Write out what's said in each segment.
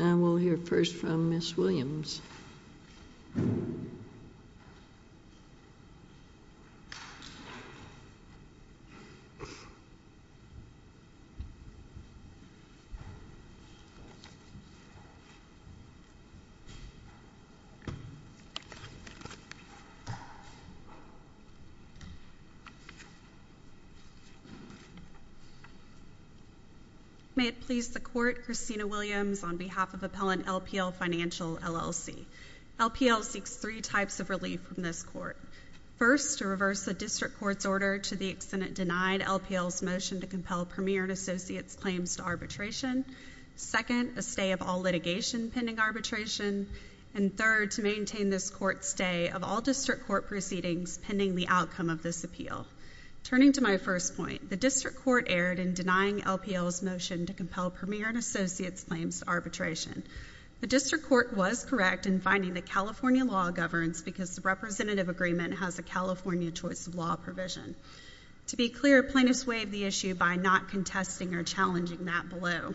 I will hear first from Ms. Williams. May it please the Court, Christina Williams on behalf of Appellant LPL Financial, LLC. LPL seeks three types of relief from this Court. First, to reverse the District Court's order to the extent it denied LPL's motion to compel Premier and Associates' claims to arbitration. Second, a stay of all litigation pending arbitration. And third, to maintain this Court's stay of all District Court proceedings pending the outcome of this appeal. Turning to my first point, the District Court erred in denying LPL's motion to compel Premier and Associates' claims to arbitration. The District Court was correct in finding that California law governs because the representative agreement has a California choice of law provision. To be clear, plaintiffs waived the issue by not contesting or challenging that below.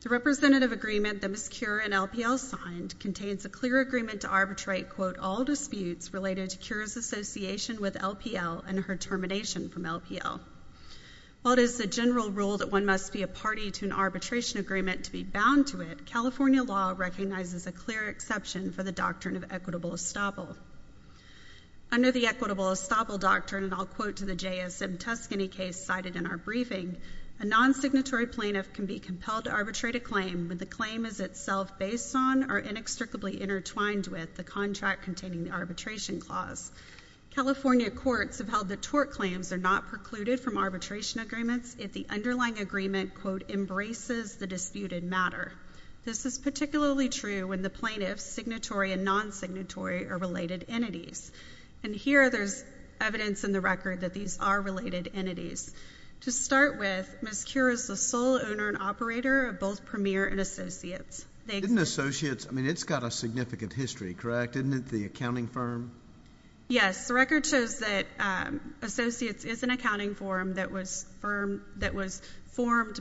The representative agreement that Ms. Cure & LPL signed contains a clear agreement to arbitrate, quote, all disputes related to Cure's association with LPL and her termination from LPL. While it is the general rule that one must be a party to an arbitration agreement to be bound to it, California law recognizes a clear exception for the doctrine of equitable estoppel. Under the equitable estoppel doctrine, and I'll quote to the JSM Tuscany case cited in our briefing, a non-signatory plaintiff can be compelled to arbitrate a claim when the claim is itself based on or inextricably intertwined with the contract containing the arbitration clause. California courts have held that tort claims are not precluded from arbitration agreements if the underlying agreement, quote, embraces the disputed matter. This is particularly true when the plaintiff's signatory and non-signatory are related entities. And here there's evidence in the record that these are related entities. To start with, Ms. Cure is the sole owner and operator of both Premier and Associates. Didn't Associates, I mean, it's got a significant history, correct? Isn't it the accounting firm? Yes. The record shows that Associates is an accounting firm that was formed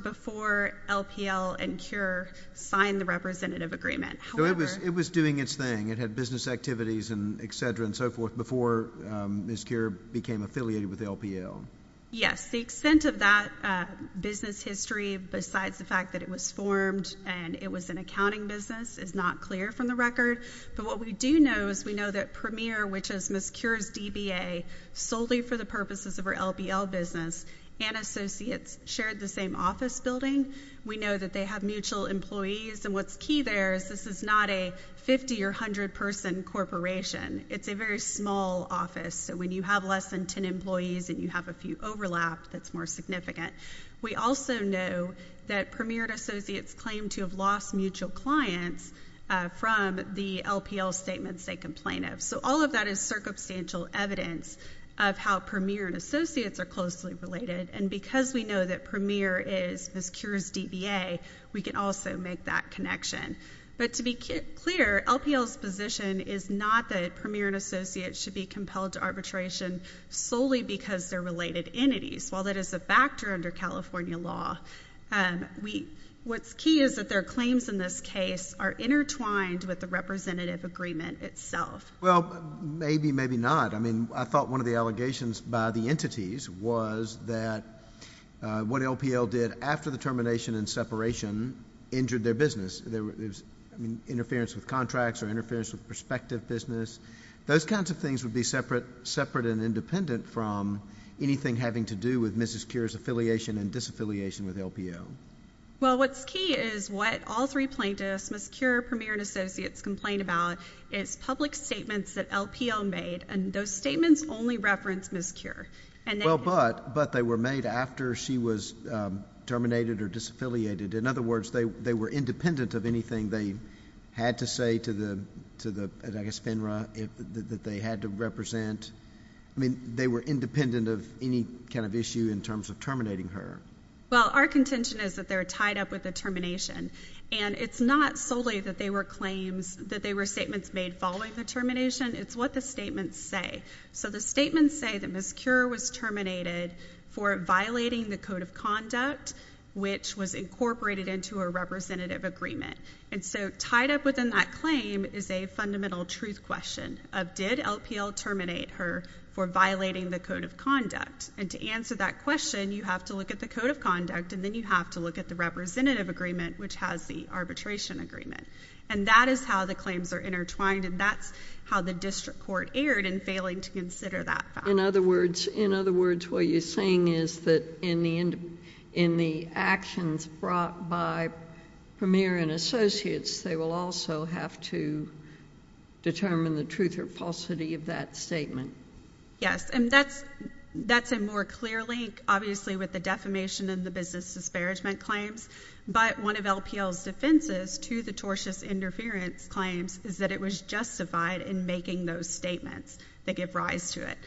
before LPL and Cure signed the representative agreement. However— So it was doing its thing. It had business activities and et cetera and so forth before Ms. Cure became affiliated with LPL. Yes. The extent of that business history besides the fact that it was formed and it was an accounting business is not clear from the record, but what we do know is we know that solely for the purposes of our LPL business, and Associates shared the same office building. We know that they have mutual employees and what's key there is this is not a 50 or 100 person corporation. It's a very small office, so when you have less than 10 employees and you have a few overlap that's more significant. We also know that Premier and Associates claim to have lost mutual clients from the LPL statements they complain of. So all of that is circumstantial evidence of how Premier and Associates are closely related and because we know that Premier is Ms. Cure's DBA, we can also make that connection. But to be clear, LPL's position is not that Premier and Associates should be compelled to arbitration solely because they're related entities. While that is a factor under California law, what's key is that their claims in this case are intertwined with the representative agreement itself. Well, maybe, maybe not. I mean, I thought one of the allegations by the entities was that what LPL did after the termination and separation injured their business. There was interference with contracts or interference with prospective business. Those kinds of things would be separate and independent from anything having to do with Mrs. Cure's affiliation and disaffiliation with LPL. Well, what's key is what all three plaintiffs, Ms. Cure, Premier, and Associates complain about is public statements that LPL made and those statements only reference Ms. Cure. Well, but they were made after she was terminated or disaffiliated. In other words, they were independent of anything they had to say to the, I guess FINRA, that they had to represent. I mean, they were independent of any kind of issue in terms of terminating her. Well, our contention is that they're tied up with the termination and it's not solely that they were claims, that they were statements made following the termination. It's what the statements say. So the statements say that Ms. Cure was terminated for violating the code of conduct, which was incorporated into a representative agreement. And so tied up within that claim is a fundamental truth question of did LPL terminate her for violating the code of conduct? And to answer that question, you have to look at the code of conduct and then you have to look at the representative agreement, which has the arbitration agreement. And that is how the claims are intertwined and that's how the district court erred in failing to consider that fact. In other words, what you're saying is that in the actions brought by Premier and associates, they will also have to determine the truth or falsity of that statement. Yes. And that's a more clear link, obviously, with the defamation and the business disparagement claims. But one of LPL's defenses to the tortious interference claims is that it was justified in making those statements that give rise to it.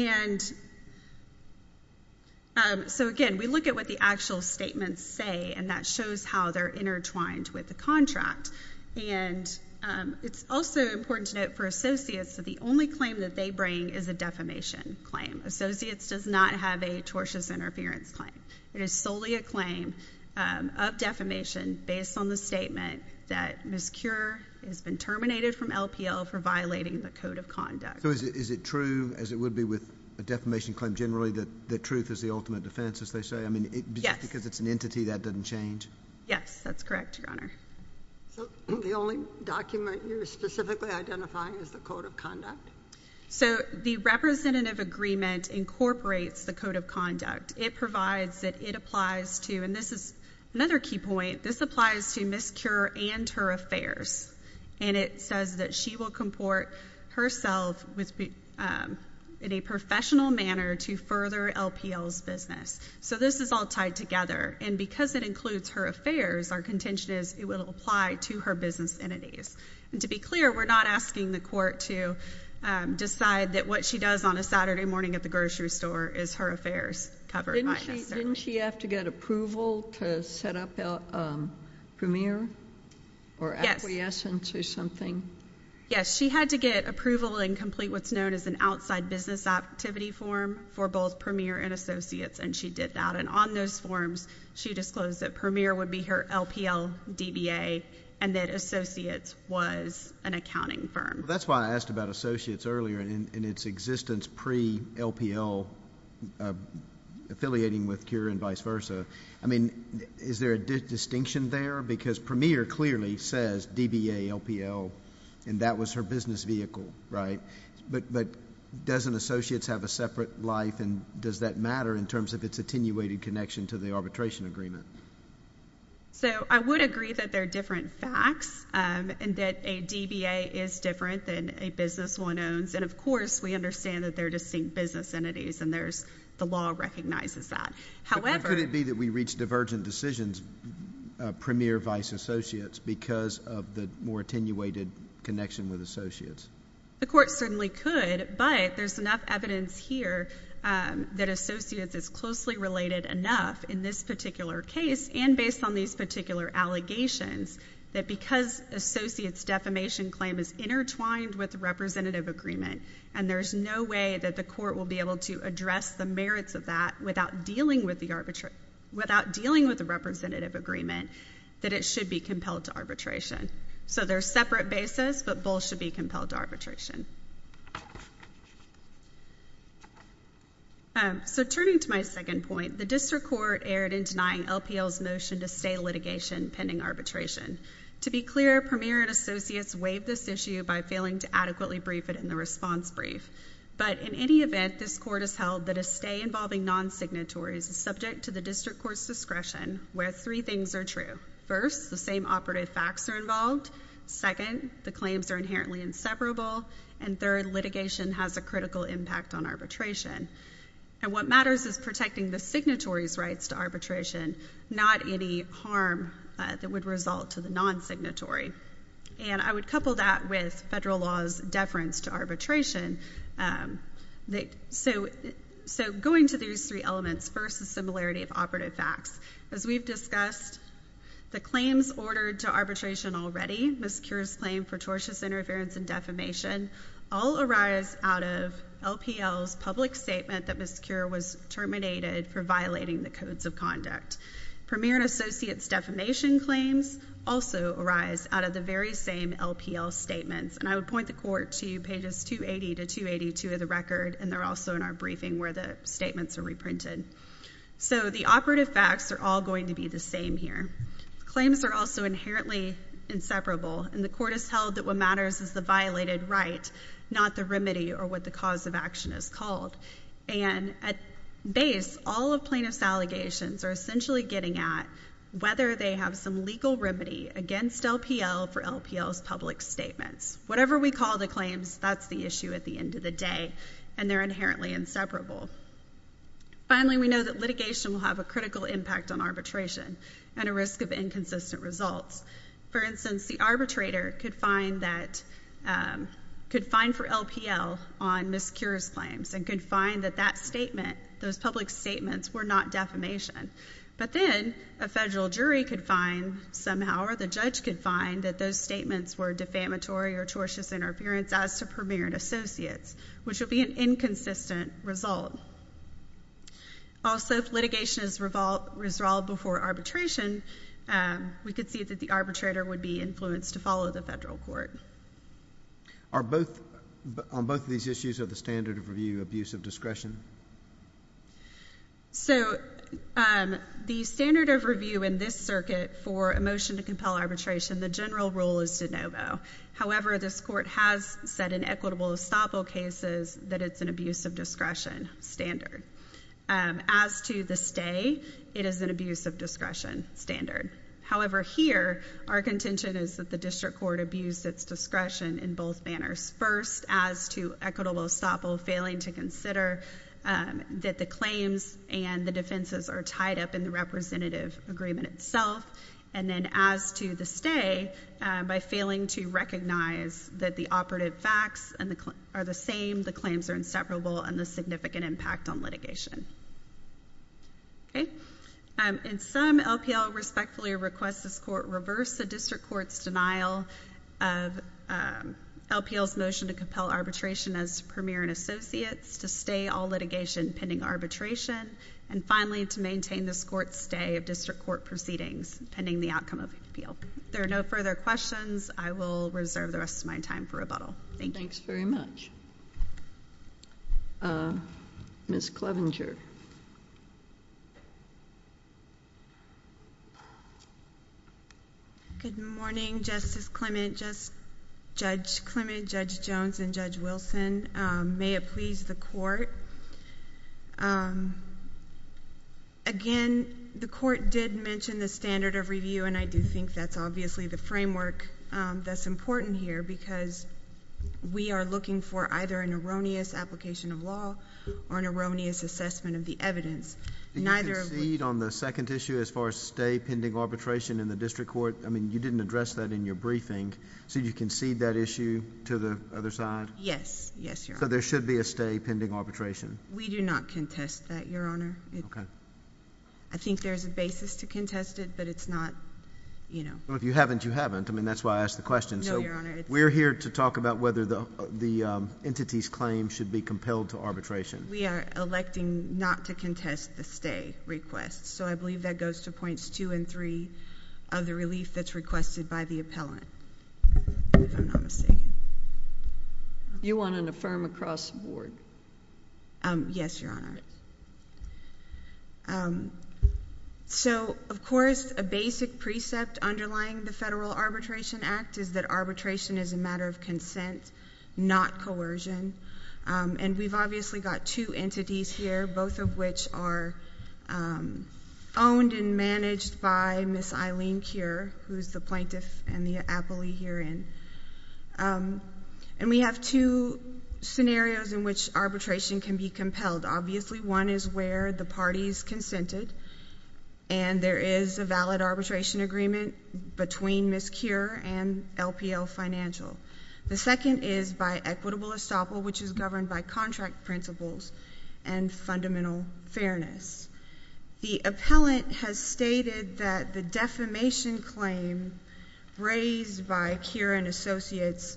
And so again, we look at what the actual statements say and that shows how they're intertwined with the contract. And it's also important to note for associates that the only claim that they bring is a defamation claim. Associates does not have a tortious interference claim. It is solely a claim of defamation based on the statement that Ms. Cure has been terminated from LPL for violating the code of conduct. Is it true, as it would be with a defamation claim generally, that truth is the ultimate defense, as they say? Yes. Because it's an entity, that doesn't change? Yes, that's correct, Your Honor. So the only document you're specifically identifying is the code of conduct? So the representative agreement incorporates the code of conduct. It provides that it applies to, and this is another key point, this applies to Ms. Cure and her affairs. And it says that she will comport herself in a professional manner to further LPL's business. So this is all tied together. And because it includes her affairs, our contention is it will apply to her business entities. And to be clear, we're not asking the court to decide that what she does on a Saturday morning at the grocery store is her affairs covered by necessarily. Didn't she have to get approval to set up Premier or acquiescence or something? Yes. She had to get approval and complete what's known as an outside business activity form for both Premier and Associates. And she did that. And on those forms, she disclosed that Premier would be her LPL, DBA, and that Associates was an accounting firm. That's why I asked about Associates earlier and its existence pre-LPL, affiliating with Cure and vice versa. I mean, is there a distinction there? Because Premier clearly says DBA, LPL, and that was her business vehicle, right? But doesn't Associates have a separate life, and does that matter in terms of its attenuated connection to the arbitration agreement? So I would agree that they're different facts and that a DBA is different than a business one owns. And of course, we understand that they're distinct business entities, and the law recognizes that. However— How could it be that we reached divergent decisions, Premier, vice, Associates, because of the more attenuated connection with Associates? The court certainly could, but there's enough evidence here that Associates is closely related enough in this particular case and based on these particular allegations that because Associates' defamation claim is intertwined with the representative agreement, and there's no way that the court will be able to address the merits of that without dealing with the arbitration—without dealing with the representative agreement, that it should be compelled to arbitration. So they're separate bases, but both should be compelled to arbitration. So turning to my second point, the district court erred in denying LPL's motion to stay litigation pending arbitration. To be clear, Premier and Associates waived this issue by failing to adequately brief it in the response brief. But in any event, this court has held that a stay involving non-signatories is subject to the district court's discretion where three things are true. First, the same operative facts are involved. Second, the claims are inherently inseparable. And third, litigation has a critical impact on arbitration. And what matters is protecting the signatory's rights to arbitration, not any harm that would result to the non-signatory. And I would couple that with federal law's deference to arbitration. So going to these three elements, first, the similarity of operative facts. As we've discussed, the claims ordered to arbitration already, Ms. Kure's claim for tortious interference and defamation, all arise out of LPL's public statement that Ms. Kure was terminated for violating the codes of conduct. Premier and Associates' defamation claims also arise out of the very same LPL statements. And I would point the court to pages 280 to 282 of the record, and they're also in our briefing where the statements are reprinted. So the operative facts are all going to be the same here. Claims are also inherently inseparable, and the court has held that what matters is the violated right, not the remedy or what the cause of action is called. And at base, all of plaintiff's allegations are essentially getting at whether they have some legal remedy against LPL for LPL's public statements. Whatever we call the claims, that's the issue at the end of the day, and they're inherently inseparable. Finally, we know that litigation will have a critical impact on arbitration and a risk of inconsistent results. For instance, the arbitrator could find that, could find for LPL on Ms. Kure's claims and could find that that statement, those public statements were not defamation. But then a federal jury could find somehow or the judge could find that those statements were defamatory or tortious interference as to Premier and Associates, which would be an inconsistent result. Also, if litigation is resolved before arbitration, we could see that the arbitrator would be influenced to follow the federal court. Are both, on both of these issues, are the standard of review abuse of discretion? So the standard of review in this circuit for a motion to compel arbitration, the general rule is de novo. However, this court has said in equitable estoppel cases that it's an abuse of discretion standard. As to the stay, it is an abuse of discretion standard. However, here, our contention is that the district court abused its discretion in both manners. First, as to equitable estoppel, failing to consider that the claims and the defenses are tied up in the representative agreement itself. And then as to the stay, by failing to recognize that the operative facts are the same, the claims are inseparable, and the significant impact on litigation. In sum, LPL respectfully requests this court reverse the district court's denial of LPL's motion to compel arbitration as Premier and Associates, to stay all litigation pending arbitration, and finally, to maintain this court's stay of district court proceedings pending the outcome of the appeal. If there are no further questions, I will reserve the rest of my time for rebuttal. Thank you. Thanks very much. Ms. Clevenger. Good morning, Justice Clement, Judge Clement, Judge Jones, and Judge Wilson. May it please the court. Again, the court did mention the standard of review, and I do think that's obviously the framework that's important here, because we are looking for either an erroneous application of law or an erroneous assessment of the evidence. Neither of... Did you concede on the second issue as far as stay pending arbitration in the district court? I mean, you didn't address that in your briefing. So, did you concede that issue to the other side? Yes. Yes, Your Honor. So, there should be a stay pending arbitration? We do not contest that, Your Honor. Okay. I think there's a basis to contest it, but it's not, you know... Well, if you haven't, you haven't. I mean, that's why I asked the question. No, Your Honor, it's... So, we're here to talk about whether the entity's claim should be compelled to arbitration. We are electing not to contest the stay request, so I believe that goes to points two and three of the relief that's requested by the appellant, if I'm not mistaken. Okay. You want to affirm across the board? Yes, Your Honor. So, of course, a basic precept underlying the Federal Arbitration Act is that arbitration is a matter of consent, not coercion. And we've obviously got two entities here, both of which are owned and managed by Miss Eileen Kier, who's the plaintiff and the appellee herein. And we have two scenarios in which arbitration can be compelled. Obviously, one is where the party's consented, and there is a valid arbitration agreement between Miss Kier and LPL Financial. The second is by equitable estoppel, which is governed by contract principles and fundamental fairness. The appellant has stated that the defamation claim raised by Kier and Associates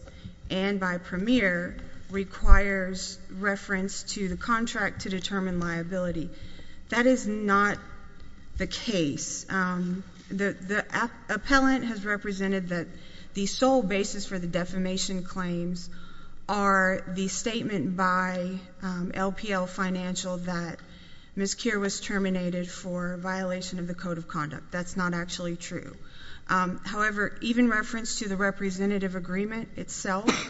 and by Premier requires reference to the contract to determine liability. That is not the case. The appellant has represented that the sole basis for the defamation claims are the statement by LPL Financial that Miss Kier was terminated for violation of the Code of Conduct. That's not actually true. However, even reference to the representative agreement itself,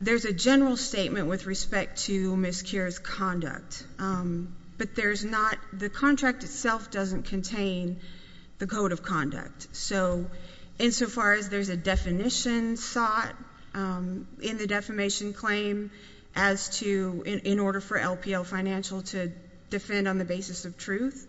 there's a general statement with respect to Miss Kier's conduct, but the contract itself doesn't contain the Code of Conduct. So, insofar as there's a definition sought in the defamation claim as to—in order for LPL Financial to defend on the basis of truth,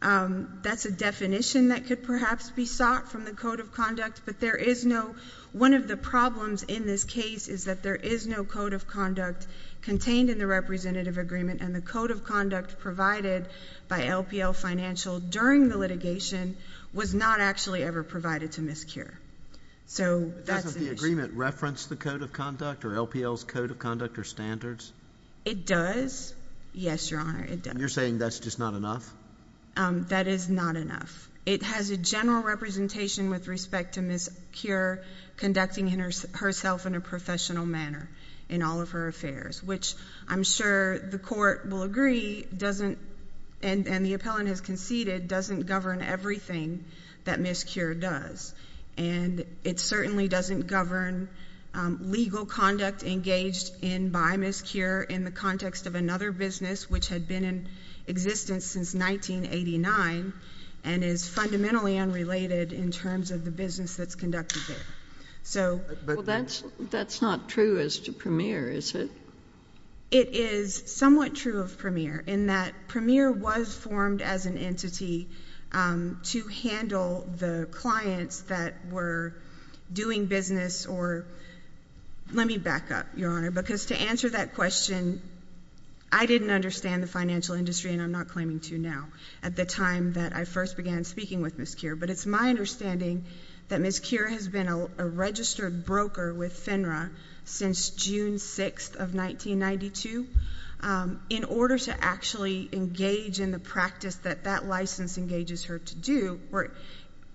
that's a definition that could perhaps be sought from the Code of Conduct, but there is no—one of the problems in this case is that there is no Code of Conduct contained in the representative agreement, and the Code of Conduct provided by LPL Financial during the litigation was not actually ever provided to Miss Kier. So, that's the issue. Doesn't the agreement reference the Code of Conduct or LPL's Code of Conduct or standards? It does. Yes, Your Honor, it does. And you're saying that's just not enough? That is not enough. It has a general representation with respect to Miss Kier conducting herself in a professional manner in all of her affairs, which I'm sure the Court will agree doesn't—and the appellant has conceded—doesn't govern everything that Miss Kier does. And it certainly doesn't govern legal conduct engaged in by Miss Kier in the context of another business which had been in existence since 1989 and is fundamentally unrelated in terms of the business that's conducted there. So— But that's not true as to Premier, is it? It is somewhat true of Premier in that Premier was formed as an entity to handle the clients that were doing business or—let me back up, Your Honor, because to answer that question, I didn't understand the financial industry, and I'm not claiming to now at the time that I first began speaking with Miss Kier. But it's my understanding that Miss Kier has been a registered broker with FINRA since June 6th of 1992. In order to actually engage in the practice that that license engages her to do or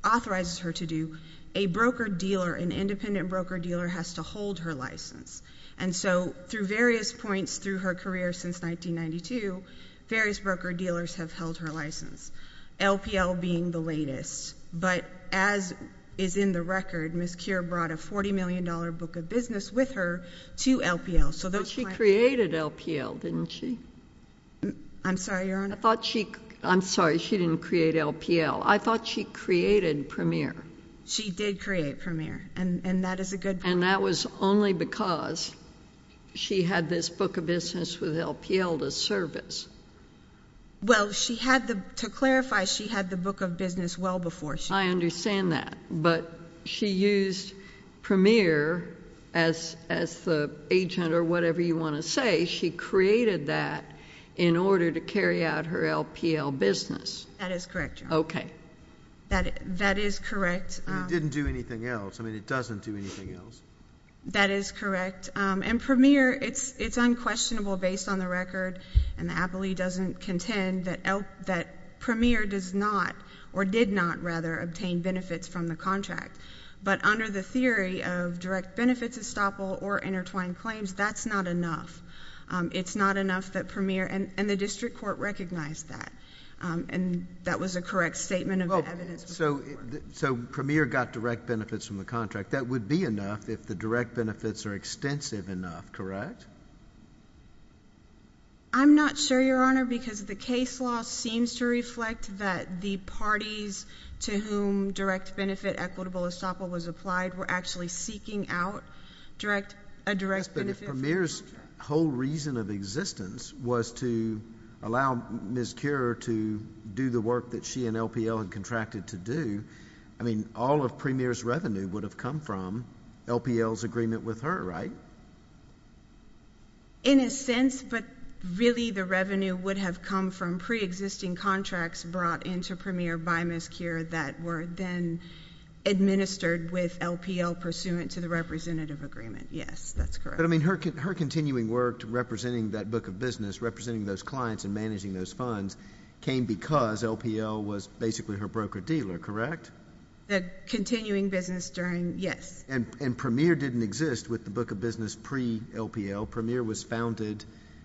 authorizes her to do, a broker-dealer, an independent broker-dealer has to hold her license. And so through various points through her career since 1992, various broker-dealers have held her license, LPL being the latest. But as is in the record, Miss Kier brought a $40 million book of business with her to LPL, so those clients— But she created LPL, didn't she? I'm sorry, Your Honor? I thought she—I'm sorry, she didn't create LPL. I thought she created Premier. She did create Premier, and that is a good point. And that was only because she had this book of business with LPL to service. Well, she had the—to clarify, she had the book of business well before she— I understand that. But she used Premier as the agent or whatever you want to say. She created that in order to carry out her LPL business. That is correct, Your Honor. Okay. That is correct. And it didn't do anything else. I mean, it doesn't do anything else. That is correct. And Premier, it's unquestionable based on the record, and the APLE doesn't contend that Premier does not or did not rather obtain benefits from the contract. But under the theory of direct benefits estoppel or intertwined claims, that's not enough. It's not enough that Premier—and the district court recognized that, and that was a correct statement of the evidence before the court. So Premier got direct benefits from the contract. That would be enough if the direct benefits are extensive enough, correct? I'm not sure, Your Honor, because the case law seems to reflect that the parties to whom direct benefit equitable estoppel was applied were actually seeking out direct—a direct benefit— But if Premier's whole reason of existence was to allow Ms. Keurer to do the work that she and LPL had contracted to do, I mean, all of Premier's revenue would have come from LPL's agreement with her, right? In a sense, but really the revenue would have come from preexisting contracts brought into Premier by Ms. Keurer that were then administered with LPL pursuant to the representative agreement. Yes, that's correct. But, I mean, her continuing work to representing that book of business, representing those with LPL, was basically her broker-dealer, correct? The continuing business during—yes. And Premier didn't exist with the book of business pre-LPL. Premier was founded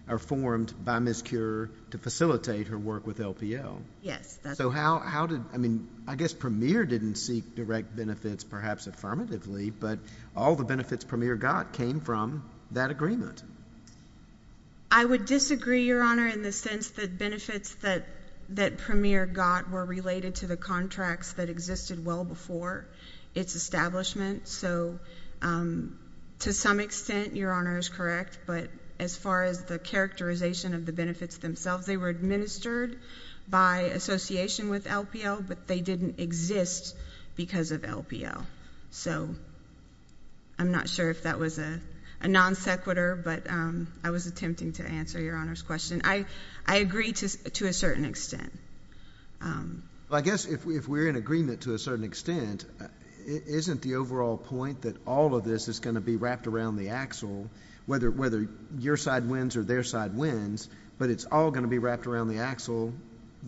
or formed by Ms. Keurer to facilitate her work with LPL. Yes, that's correct. So how did—I mean, I guess Premier didn't seek direct benefits, perhaps affirmatively, but all the benefits Premier got came from that agreement. I would disagree, Your Honor, in the sense that benefits that Premier got were related to the contracts that existed well before its establishment. So to some extent, Your Honor is correct, but as far as the characterization of the benefits themselves, they were administered by association with LPL, but they didn't exist because of LPL. So I'm not sure if that was a non-sequitur, but I was attempting to answer Your Honor's question. I agree to a certain extent. I guess if we're in agreement to a certain extent, isn't the overall point that all of this is going to be wrapped around the axle, whether your side wins or their side wins, but it's all going to be wrapped around the axle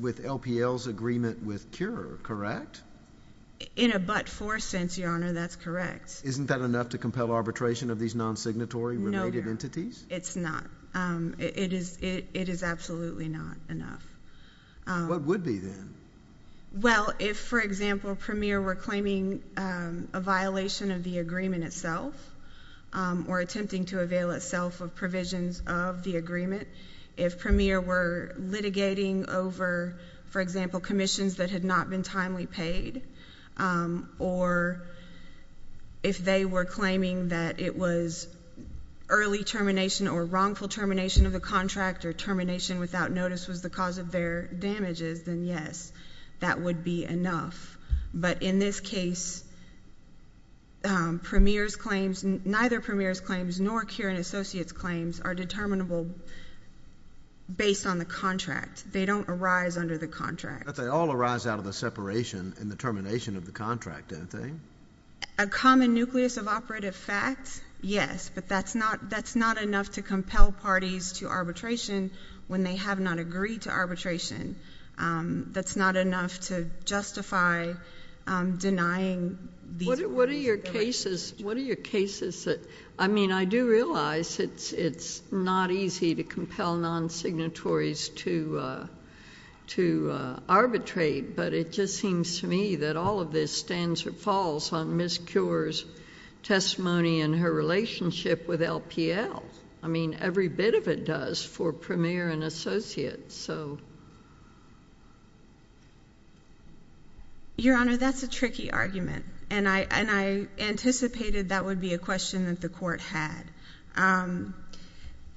with LPL's agreement with Keurer, correct? In a but-for sense, Your Honor, that's correct. Isn't that enough to compel arbitration of these non-signatory related entities? No, Your Honor. It's not. It is absolutely not enough. What would be then? Well, if, for example, Premier were claiming a violation of the agreement itself or attempting to avail itself of provisions of the agreement, if Premier were litigating over, for example, commissions that had not been timely paid or if they were claiming that it was early termination or wrongful termination of the contract or termination without notice was the cause of their damages, then yes, that would be enough. But in this case, Premier's claims, neither Premier's claims nor Keurer and Associates' claims are determinable based on the contract. They don't arise under the contract. But they all arise out of the separation and the termination of the contract, don't they? A common nucleus of operative facts, yes, but that's not enough to compel parties to arbitration when they have not agreed to arbitration. That's not enough to justify denying these— What are your cases that—I mean, I do realize it's not easy to compel non-signatories to arbitrate, but it just seems to me that all of this stands or falls on Ms. Keurer's testimony and her relationship with LPL. I mean, every bit of it does for Premier and Associates. Your Honor, that's a tricky argument, and I anticipated that would be a question that the Court had.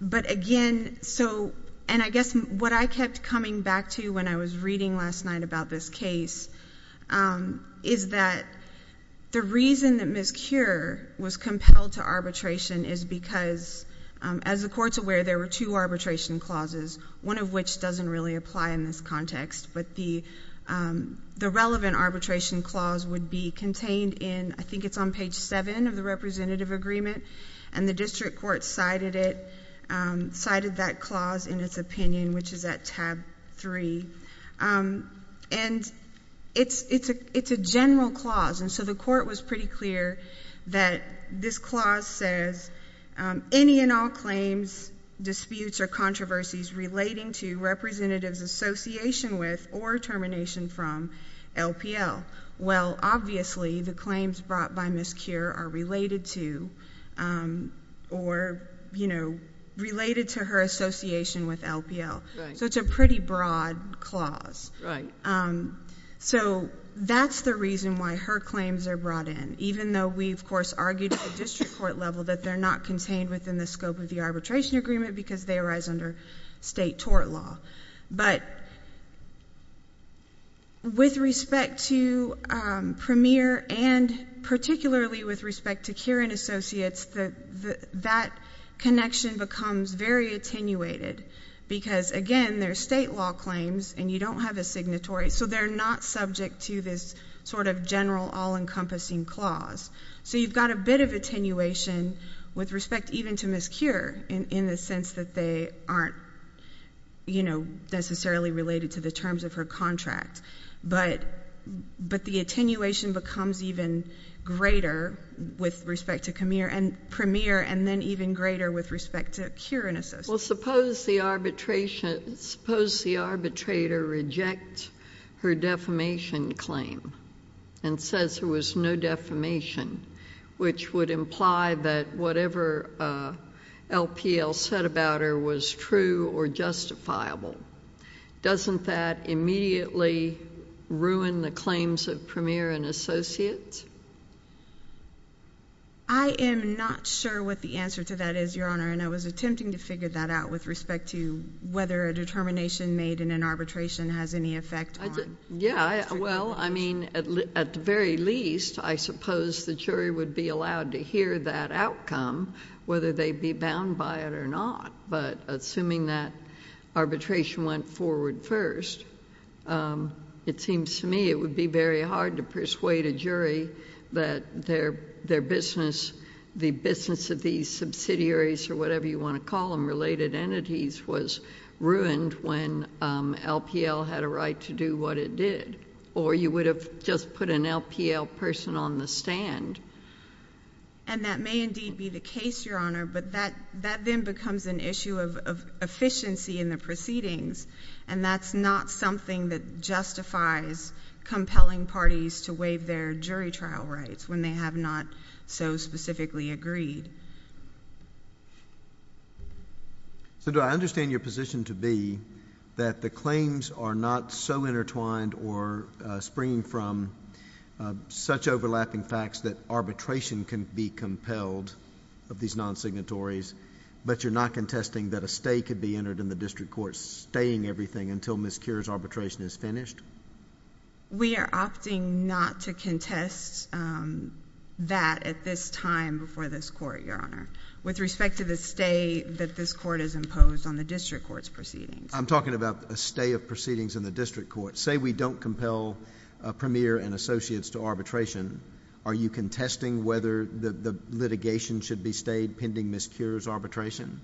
But, again, so—and I guess what I kept coming back to when I was reading last night about this case is that the reason that Ms. Keurer was compelled to arbitration is because, as the Court's aware, there were two arbitration clauses, one of which doesn't really apply in this context, but the relevant arbitration clause would be contained in—I think it's on page 7 of the Representative Agreement, and the District Court cited it, cited that clause in its opinion, which is at tab 3. And it's a general clause, and so the Court was pretty clear that this clause says, any and all claims, disputes, or controversies relating to representatives' association with or termination from LPL, well, obviously, the claims brought by Ms. Keurer are related to or, you know, related to her association with LPL. So it's a pretty broad clause. So that's the reason why her claims are brought in, even though we, of course, argued at the District Court level that they're not contained within the scope of the arbitration agreement because they arise under state tort law. But with respect to Premier and particularly with respect to Keurin Associates, that connection becomes very attenuated because, again, they're state law claims, and you don't have a signatory, so they're not subject to this sort of general, all-encompassing clause. So you've got a bit of attenuation with respect even to Ms. Keurer in the sense that they aren't, you know, necessarily related to the terms of her contract, but the attenuation becomes even greater with respect to Premier and then even greater with respect to Keurin Associates. Well, suppose the arbitration — suppose the arbitrator rejects her defamation claim and says there was no defamation, which would imply that whatever LPL said about her was true or justifiable. Doesn't that immediately ruin the claims of Premier and Associates? I am not sure what the answer to that is, Your Honor, and I was attempting to figure that out with respect to whether a determination made in an arbitration has any effect on — Yeah, well, I mean, at the very least, I suppose the jury would be allowed to hear that outcome, whether they be bound by it or not, but assuming that arbitration went forward first, it seems to me it would be very hard to persuade a jury that their business — the business of these subsidiaries or whatever you want to call them, related entities, was ruined when LPL had a right to do what it did, or you would have just put an LPL person on the stand. And that may indeed be the case, Your Honor, but that then becomes an issue of efficiency in the proceedings, and that's not something that justifies compelling parties to waive their jury trial rights when they have not so specifically agreed. So, do I understand your position to be that the claims are not so intertwined or springing from such overlapping facts that arbitration can be compelled of these non-signatories, but you're not contesting that a stay could be entered in the district court, staying everything until Ms. Kure's arbitration is finished? We are opting not to contest that at this time before this court, Your Honor, with respect to the stay that this court has imposed on the district court's proceedings. I'm talking about a stay of proceedings in the district court. Say we don't compel Premier and associates to arbitration. Are you contesting whether the litigation should be stayed pending Ms. Kure's arbitration?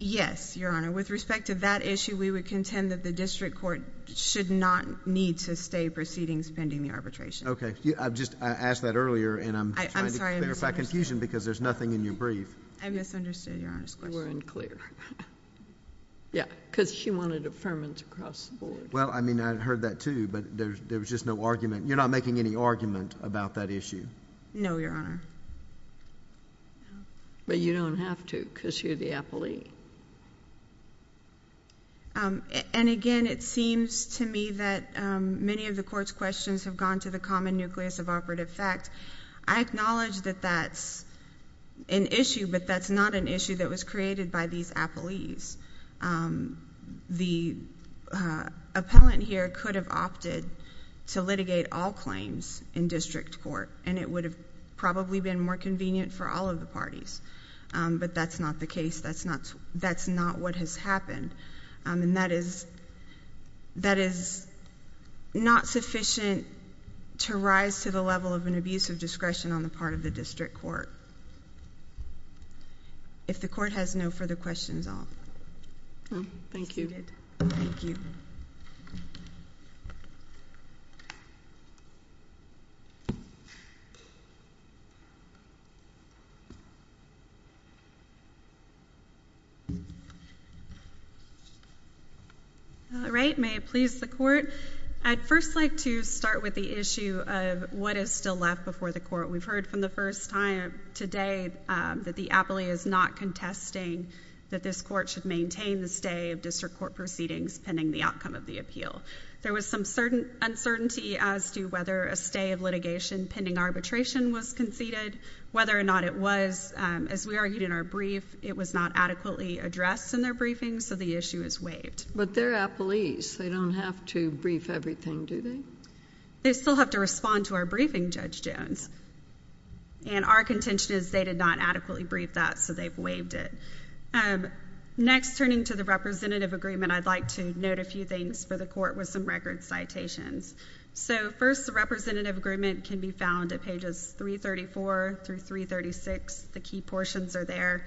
Yes, Your Honor. With respect to that issue, we would contend that the district court should not need to stay proceedings pending the arbitration. Okay. I just asked that earlier, and I'm trying to clarify confusion because there's nothing in your brief. I misunderstood Your Honor's question. We're unclear. Yeah, because she wanted affirmance across the board. Well, I mean, I heard that too, but there was just no argument. You're not making any argument about that issue? No, Your Honor. But you don't have to because you're the appellee. And again, it seems to me that many of the court's questions have gone to the common nucleus of operative fact. I acknowledge that that's an issue, but that's not an issue that was created by these appellees. The appellant here could have opted to litigate all claims in district court, and it would have probably been more convenient for all of the parties, but that's not the case. That's not what has happened, and that is not sufficient to rise to the level of an abuse of discretion on the part of the district court. If the court has no further questions, I'll move. Thank you. Thank you. All right. May it please the Court, I'd first like to start with the issue of what is still left before the Court. We've heard from the first time today that the appellee is not contesting that this Court should maintain the stay of district court proceedings pending the outcome of the appeal. There was some uncertainty as to whether a stay of litigation pending arbitration was conceded, whether or not it was. As we argued in our brief, it was not adequately addressed in their briefing, so the issue is waived. But they're appellees. They don't have to brief everything, do they? They still have to respond to our briefing, Judge Jones, and our contention is they did not adequately brief that, so they've waived it. Next turning to the representative agreement, I'd like to note a few things for the Court with some record citations. So first, the representative agreement can be found at pages 334 through 336. The key portions are there.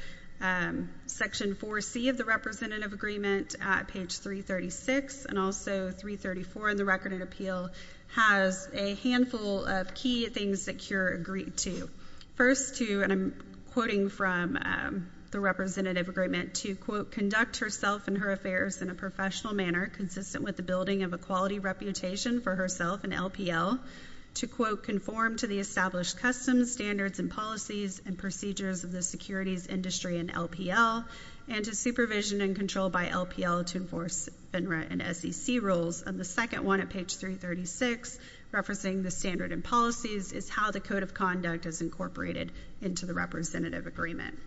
Section 4C of the representative agreement at page 336 and also 334 in the Recorded Appeal has a handful of key things that CURE agreed to. First, to, and I'm quoting from the representative agreement, to, quote, conduct herself and her affairs in a professional manner consistent with the building of a quality reputation for herself in LPL, to, quote, conform to the established customs, standards, and policies and procedures of the securities industry in LPL, and to supervision and control by LPL to enforce FINRA and SEC rules, and the second one at page 336, referencing the standard and policies, is how the code of conduct is incorporated into the representative agreement.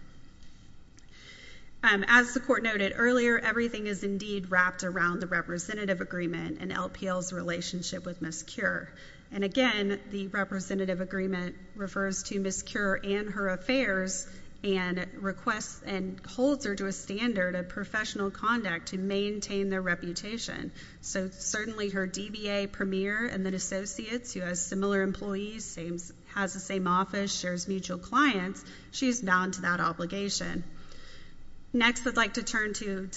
As the Court noted earlier, everything is indeed wrapped around the representative agreement and LPL's relationship with Ms. CURE, and again, the representative agreement refers to Ms. CURE and her affairs and requests and holds her to a standard of professional conduct to maintain their reputation. So certainly her DBA, Premier, and then Associates, who has similar employees, has the same office, shares mutual clients, she's bound to that obligation. Next I'd like to turn to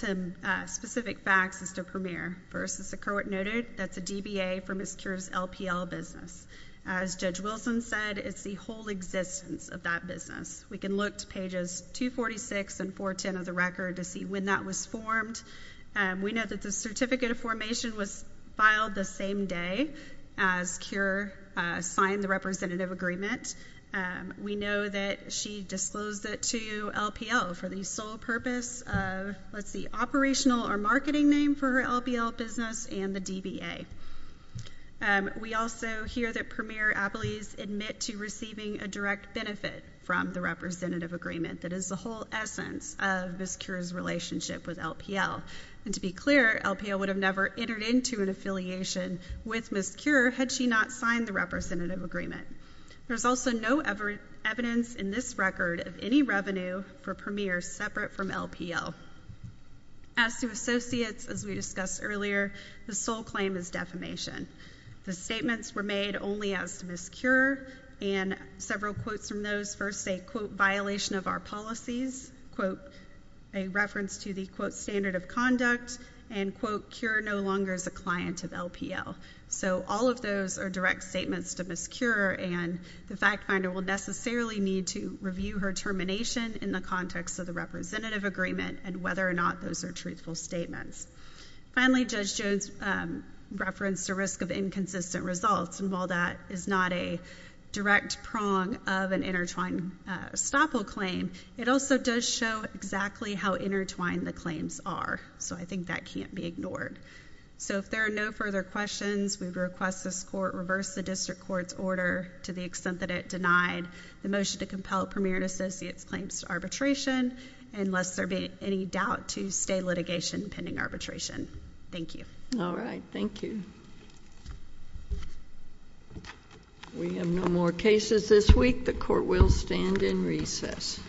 specific facts as to Premier. First, as the Court noted, that's a DBA for Ms. CURE's LPL business. As Judge Wilson said, it's the whole existence of that business. We can look to pages 246 and 410 of the Record to see when that was formed. We know that the certificate of formation was filed the same day as CURE signed the representative agreement. We know that she disclosed it to LPL for the sole purpose of, let's see, operational or marketing name for her LPL business and the DBA. We also hear that Premier Apley's admit to receiving a direct benefit from the representative agreement that is the whole essence of Ms. CURE's relationship with LPL. And to be clear, LPL would have never entered into an affiliation with Ms. CURE had she not signed the representative agreement. There's also no evidence in this record of any revenue for Premier separate from LPL. As to Associates, as we discussed earlier, the sole claim is defamation. The statements were made only as to Ms. CURE, and several quotes from those, first a, quote, violation of our policies, quote, a reference to the, quote, standard of conduct, and, quote, CURE no longer is a client of LPL. So all of those are direct statements to Ms. CURE, and the fact finder will necessarily need to review her termination in the context of the representative agreement and whether or not those are truthful statements. Finally, Judge Jones referenced a risk of inconsistent results, and while that is not a direct prong of an intertwined estoppel claim, it also does show exactly how intertwined the claims are. So I think that can't be ignored. So if there are no further questions, we request this court reverse the district court's order to the extent that it denied the motion to compel Premier and Associates' claims to arbitration unless there be any doubt to stay litigation pending arbitration. Thank you. All right. Thank you. We have no more cases this week. The court will stand in recess.